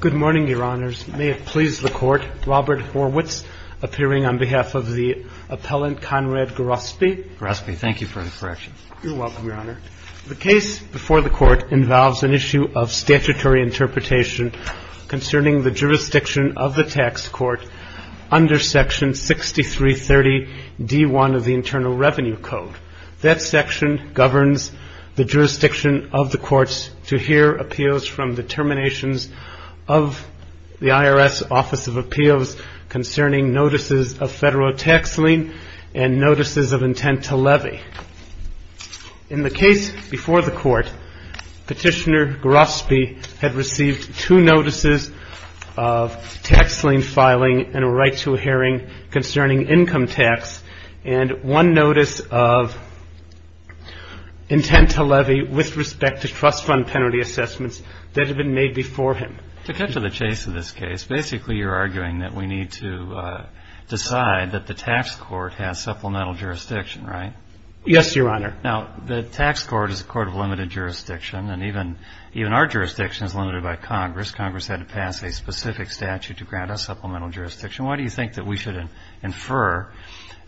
Good morning, Your Honors. May it please the Court, Robert Horwitz, appearing on behalf of the appellant, Conrad Grospe. Grospe, thank you for the correction. You're welcome, Your Honor. The case before the Court involves an issue of statutory interpretation concerning the jurisdiction of the tax court under Section 6330 D.1 of the Internal Revenue Code. That section governs the jurisdiction of the courts to hear appeals from the terminations of the IRS Office of Appeals concerning notices of federal tax lien and notices of intent to levy. In the case before the Court, Petitioner Grospe had received two notices of tax lien filing and a right to a hearing concerning income tax and one notice of intent to levy with respect to trust fund penalty assessments that had been made before him. To cut to the chase of this case, basically you're arguing that we need to decide that the tax court has supplemental jurisdiction, right? Yes, Your Honor. Now, the tax court is a court of limited jurisdiction, and even our jurisdiction is limited by Congress. Congress had to pass a specific statute to grant us supplemental jurisdiction. Why do you think that we should infer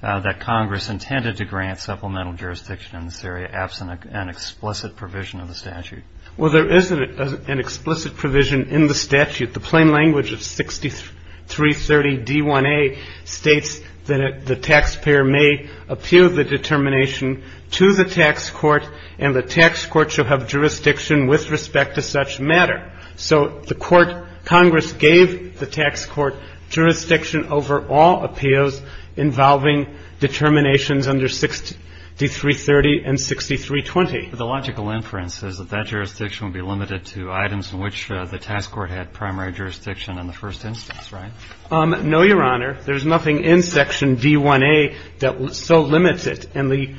that Congress intended to grant supplemental jurisdiction in this area absent an explicit provision of the statute? Well, there is an explicit provision in the statute. The plain language of 6330 D.1a states that the taxpayer may appeal the determination to the tax court, and the tax court shall have jurisdiction with respect to such matter. So the court, Congress gave the tax court jurisdiction over all appeals involving determinations under 6330 and 6320. But the logical inference is that that jurisdiction would be limited to items in which the tax court had primary jurisdiction in the first instance, right? No, Your Honor. There's nothing in Section D.1a that so limits it. And the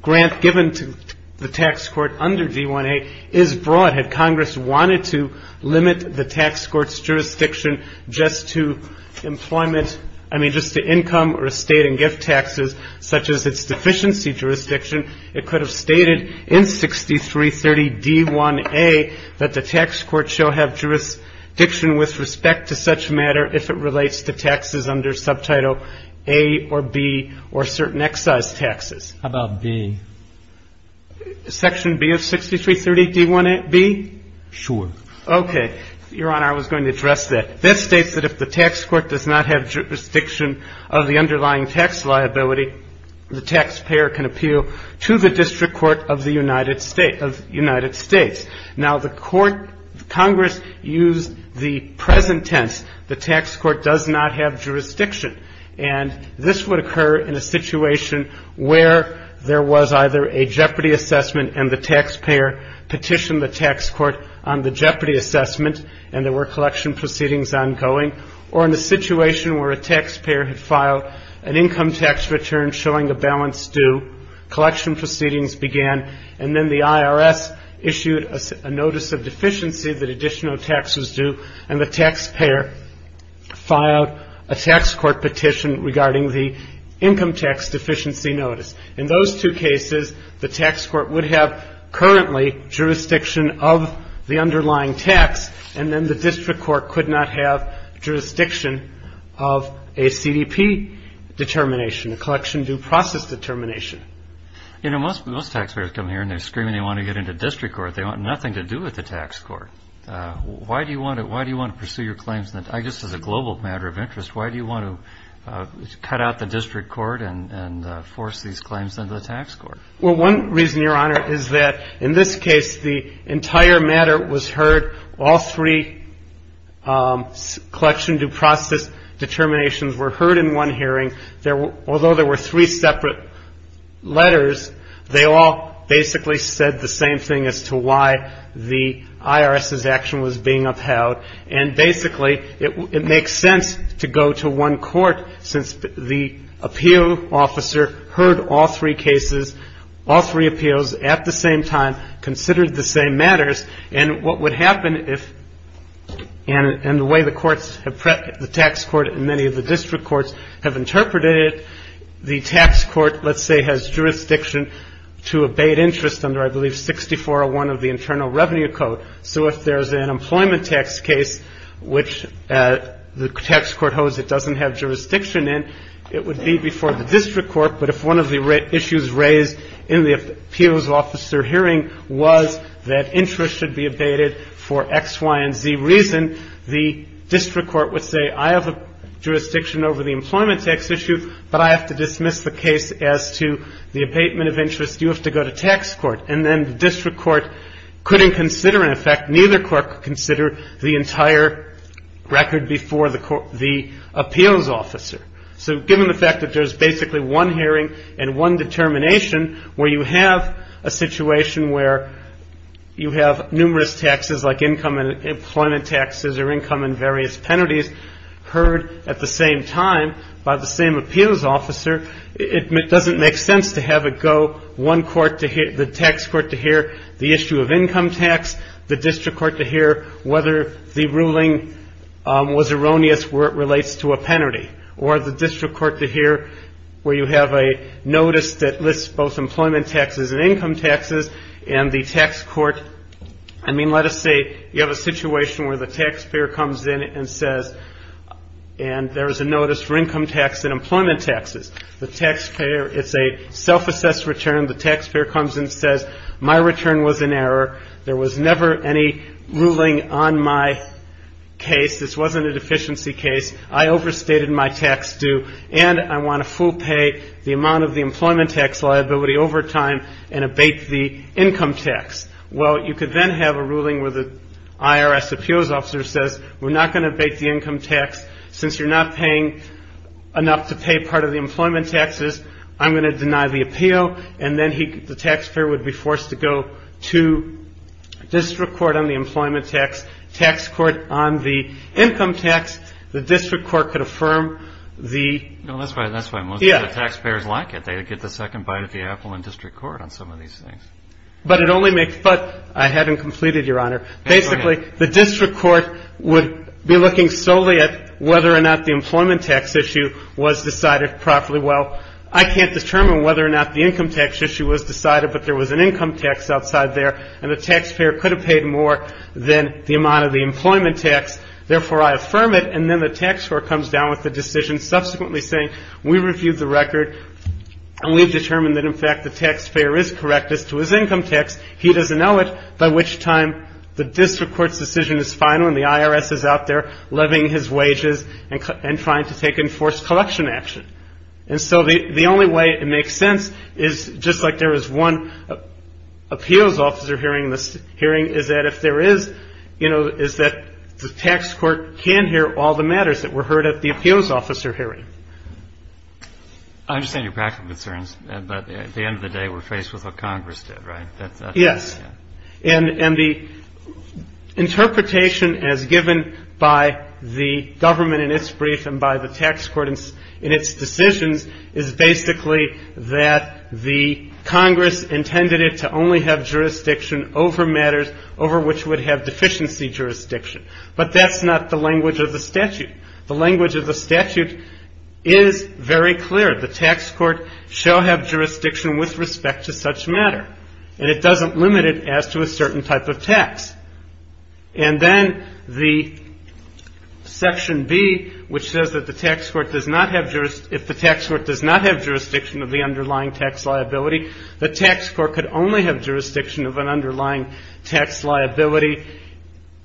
grant given to the tax court under D.1a is broad. Had Congress wanted to limit the tax court's jurisdiction just to employment, I mean, just to income or estate and gift taxes, such as its deficiency jurisdiction, it could have stated in 6330 D.1a that the tax court shall have jurisdiction with respect to such matter if it relates to taxes under Subtitle A or B or certain excise taxes. How about B? Section B of 6330 D.1b? Sure. Okay. Your Honor, I was going to address that. That states that if the tax court does not have jurisdiction of the underlying tax liability, the taxpayer can appeal to the district court of the United States. Now, the court, Congress used the present tense, the tax court does not have jurisdiction. And this would occur in a situation where there was either a jeopardy assessment and the taxpayer petitioned the tax court on the jeopardy assessment and there were collection proceedings ongoing, or in a situation where a taxpayer had filed an income tax return showing a balance due, collection proceedings began, and then the IRS issued a notice of deficiency that additional tax was due, and the taxpayer filed a tax court petition regarding the income tax deficiency notice. In those two cases, the tax court would have currently jurisdiction of the underlying tax, and then the district court could not have jurisdiction of a CDP determination, a collection due process determination. You know, most taxpayers come here and they're screaming they want to get into district court, they want nothing to do with the tax court. Why do you want to pursue your claims? I guess as a global matter of interest, why do you want to cut out the district court and force these claims into the tax court? Well, one reason, Your Honor, is that in this case, the entire matter was heard, all three collection due process determinations were heard in one hearing. Although there were three separate letters, they all basically said the same thing as to why the IRS's action was being upheld, and basically, it makes sense to go to one court since the appeal officer heard all three cases, all three appeals at the same time, considered the same matters, and what would happen if, and the way the courts have prepped the tax court and many of the district courts have interpreted it, the tax court, let's say, has jurisdiction to abate interest under, I believe, 6401 of the Internal Revenue Code. So if there's an employment tax case which the tax court holds it doesn't have jurisdiction in, it would be before the district court, but if one of the issues raised in the appeals officer hearing was that interest should be abated for X, Y, and Z reason, the district court would say, I have a jurisdiction over the employment tax issue, but I have to dismiss the case as to the abatement of interest, you have to go to tax court, and then the district court couldn't consider, in effect, neither court could consider the entire record before the appeals officer. So given the fact that there's basically one hearing and one determination where you have a situation where you have numerous taxes like income and employment taxes or income and various penalties heard at the same time by the same appeals officer, it doesn't make sense to have it go one court to hear, the tax court to hear the issue of income tax, the district court to hear whether the ruling was erroneous where it relates to a penalty, or the district court to hear where you have a notice that lists both employment taxes and income taxes, and the tax court, I mean, let us say you have a situation where the tax court comes in and says, and there is a notice for income tax and employment taxes, the taxpayer, it's a self-assessed return, the taxpayer comes in and says, my return was an error, there was never any ruling on my case, this wasn't a deficiency case, I overstated my tax due, and I want to full pay the amount of the employment tax liability over time and abate the income tax. Well, you could then have a ruling where the IRS appeals officer says, we're not going to abate the income tax, since you're not paying enough to pay part of the employment taxes, I'm going to deny the appeal, and then the taxpayer would be forced to go to district court on the employment tax, tax court on the income tax, the district court could affirm the... No, that's fine, that's fine, most of the taxpayers like it, they would get the second bite of the apple in district court on some of these things. But it only makes... But, I haven't completed, Your Honor, basically, the district court would be looking solely at whether or not the employment tax issue was decided properly, well, I can't determine whether or not the income tax issue was decided, but there was an income tax outside there, and the taxpayer could have paid more than the amount of the employment tax, therefore I affirm it, and then the tax court comes down with the decision, subsequently saying, we reviewed the record, and we've determined that, in fact, the taxpayer is correct as to his income tax, he doesn't know it, by which time the district court's decision is final and the IRS is out there levying his wages and trying to take enforced collection action. And so, the only way it makes sense is, just like there is one appeals officer hearing, is that if there is, you know, is that the tax court can hear all the matters that were in the appeals officer hearing. I understand your practical concerns, but at the end of the day, we're faced with what Congress did, right? That's... Yes. And the interpretation as given by the government in its brief and by the tax court in its decisions is basically that the Congress intended it to only have jurisdiction over matters over which would have deficiency jurisdiction. But that's not the language of the statute. The language of the statute is very clear. The tax court shall have jurisdiction with respect to such matter, and it doesn't limit it as to a certain type of tax. And then, the section B, which says that the tax court does not have jurisdiction, if the tax court does not have jurisdiction of the underlying tax liability, the tax court could only have jurisdiction of an underlying tax liability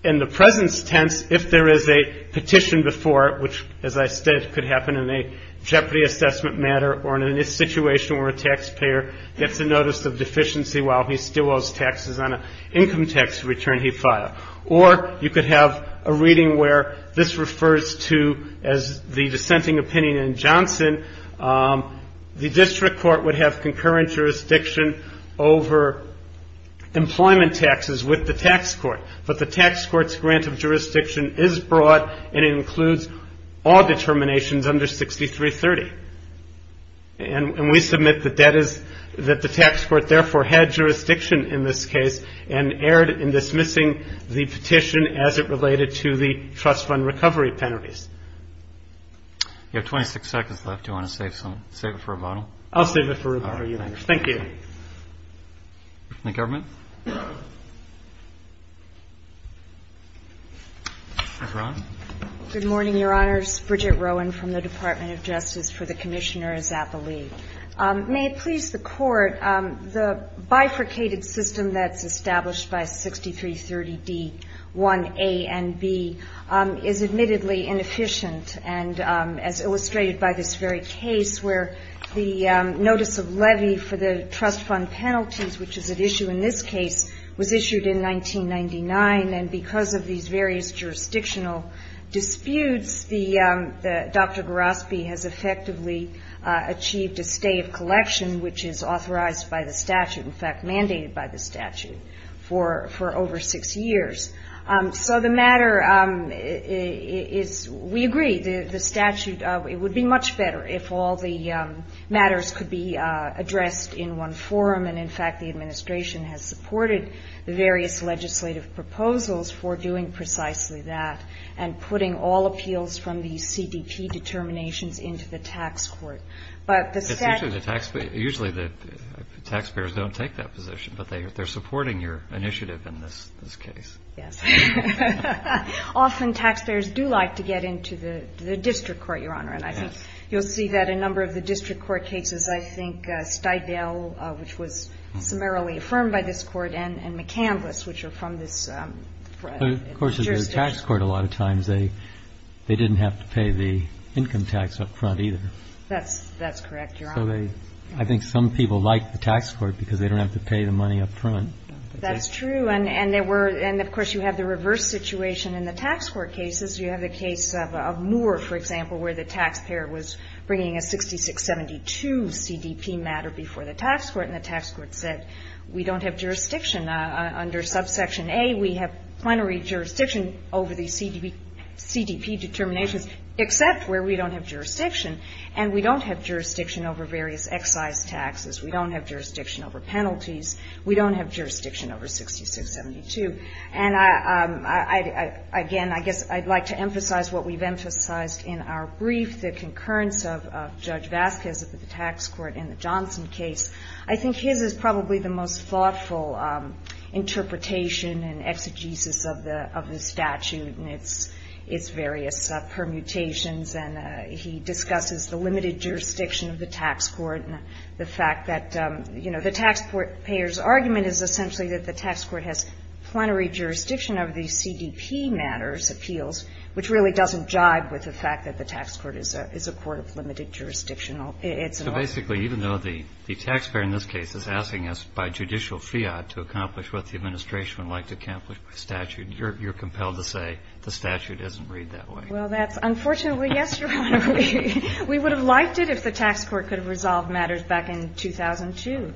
in the presence tense if there is a petition before it, which, as I said, could happen in a jeopardy assessment matter or in a situation where a taxpayer gets a notice of deficiency while he still owes taxes on an income tax return he filed. Or you could have a reading where this refers to, as the dissenting opinion in Johnson, the district court would have concurrent jurisdiction over employment taxes with the tax court, but the tax court's grant of jurisdiction is broad and it includes all determinations under 6330. And we submit that that is, that the tax court therefore had jurisdiction in this case and erred in dismissing the petition as it related to the trust fund recovery penalties. You have 26 seconds left. Do you want to save some, save it for a bottle? I'll save it for a bottle, Your Honor. Thank you. Any comment? Ms. Rohn? Good morning, Your Honors. Bridget Rohn from the Department of Justice for the Commissioners at the League. May it please the Court, the bifurcated system that's established by 6330d1a and b is admittedly inefficient and as illustrated by this very case where the notice of levy for the trust fund penalties, which is at issue in this case, was issued in 1999 and because of these various jurisdictional disputes, Dr. Geraspe has effectively achieved a stay of collection which is authorized by the statute, in fact mandated by the statute, for over six years. So the matter is, we agree, the statute, it would be much better if all the matters could be addressed in one forum and, in fact, the administration has supported the various legislative proposals for doing precisely that and putting all appeals from the CDP determinations into the tax court. But the statute... It's usually the taxpayer, usually the taxpayers don't take that position, but they're supporting your initiative in this case. Yes. Often taxpayers do like to get into the district court, Your Honor, and I think you'll see that in a number of the district court cases, I think Steigall, which was summarily affirmed by this Court, and McCandless, which are from this jurisdiction. Of course, in the tax court, a lot of times, they didn't have to pay the income tax up front either. That's correct, Your Honor. So they, I think some people like the tax court because they don't have to pay the money up front. That's true. And there were, and of course, you have the reverse situation in the tax court cases. You have the case of Moore, for example, where the taxpayer was bringing a 6672 CDP matter before the tax court, and the tax court said, we don't have jurisdiction under subsection A. We have plenary jurisdiction over the CDP determinations, except where we don't have various excise taxes. We don't have jurisdiction over penalties. We don't have jurisdiction over 6672. And I, again, I guess I'd like to emphasize what we've emphasized in our brief, the concurrence of Judge Vasquez of the tax court in the Johnson case. I think his is probably the most thoughtful interpretation and exegesis of the statute and its various permutations. And he discusses the limited jurisdiction of the tax court and the fact that, you know, the taxpayer's argument is essentially that the tax court has plenary jurisdiction over the CDP matters, appeals, which really doesn't jibe with the fact that the tax court is a court of limited jurisdiction. It's an order. So basically, even though the taxpayer in this case is asking us by judicial fiat to accomplish what the administration would like to accomplish by statute, you're compelled to say the statute doesn't read that way. Well, that's unfortunately, yes, Your Honor. We would have liked it if the tax court could have resolved matters back in 2002.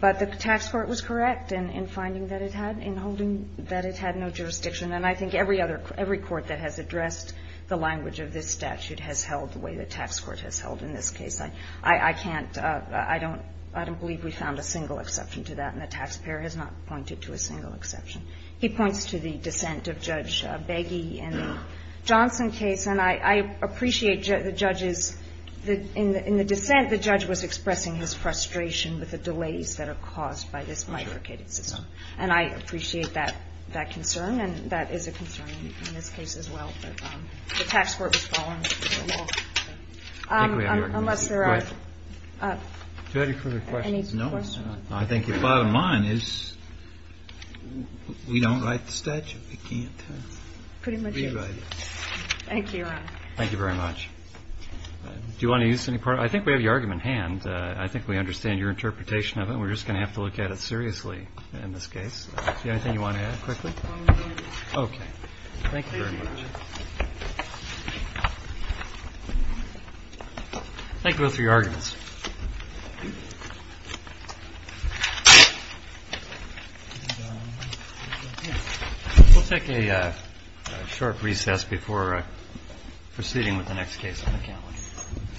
But the tax court was correct in finding that it had no jurisdiction. And I think every court that has addressed the language of this statute has held the way the tax court has held in this case. I can't – I don't believe we found a single exception to that. And the taxpayer has not pointed to a single exception. He points to the dissent of Judge Begge in the Johnson case. And I appreciate the judge's – in the dissent, the judge was expressing his frustration with the delays that are caused by this mifurcated system. And I appreciate that concern, and that is a concern in this case as well. But the tax court was following the law. Unless there are any further questions. No, I think the bottom line is we don't write the statute. We can't rewrite it. Thank you, Your Honor. Thank you very much. Do you want to use any part – I think we have your argument in hand. I think we understand your interpretation of it. We're just going to have to look at it seriously in this case. Is there anything you want to add quickly? Okay. Thank you very much. Thank you both for your arguments. We'll take a short recess before proceeding with the next case on the count.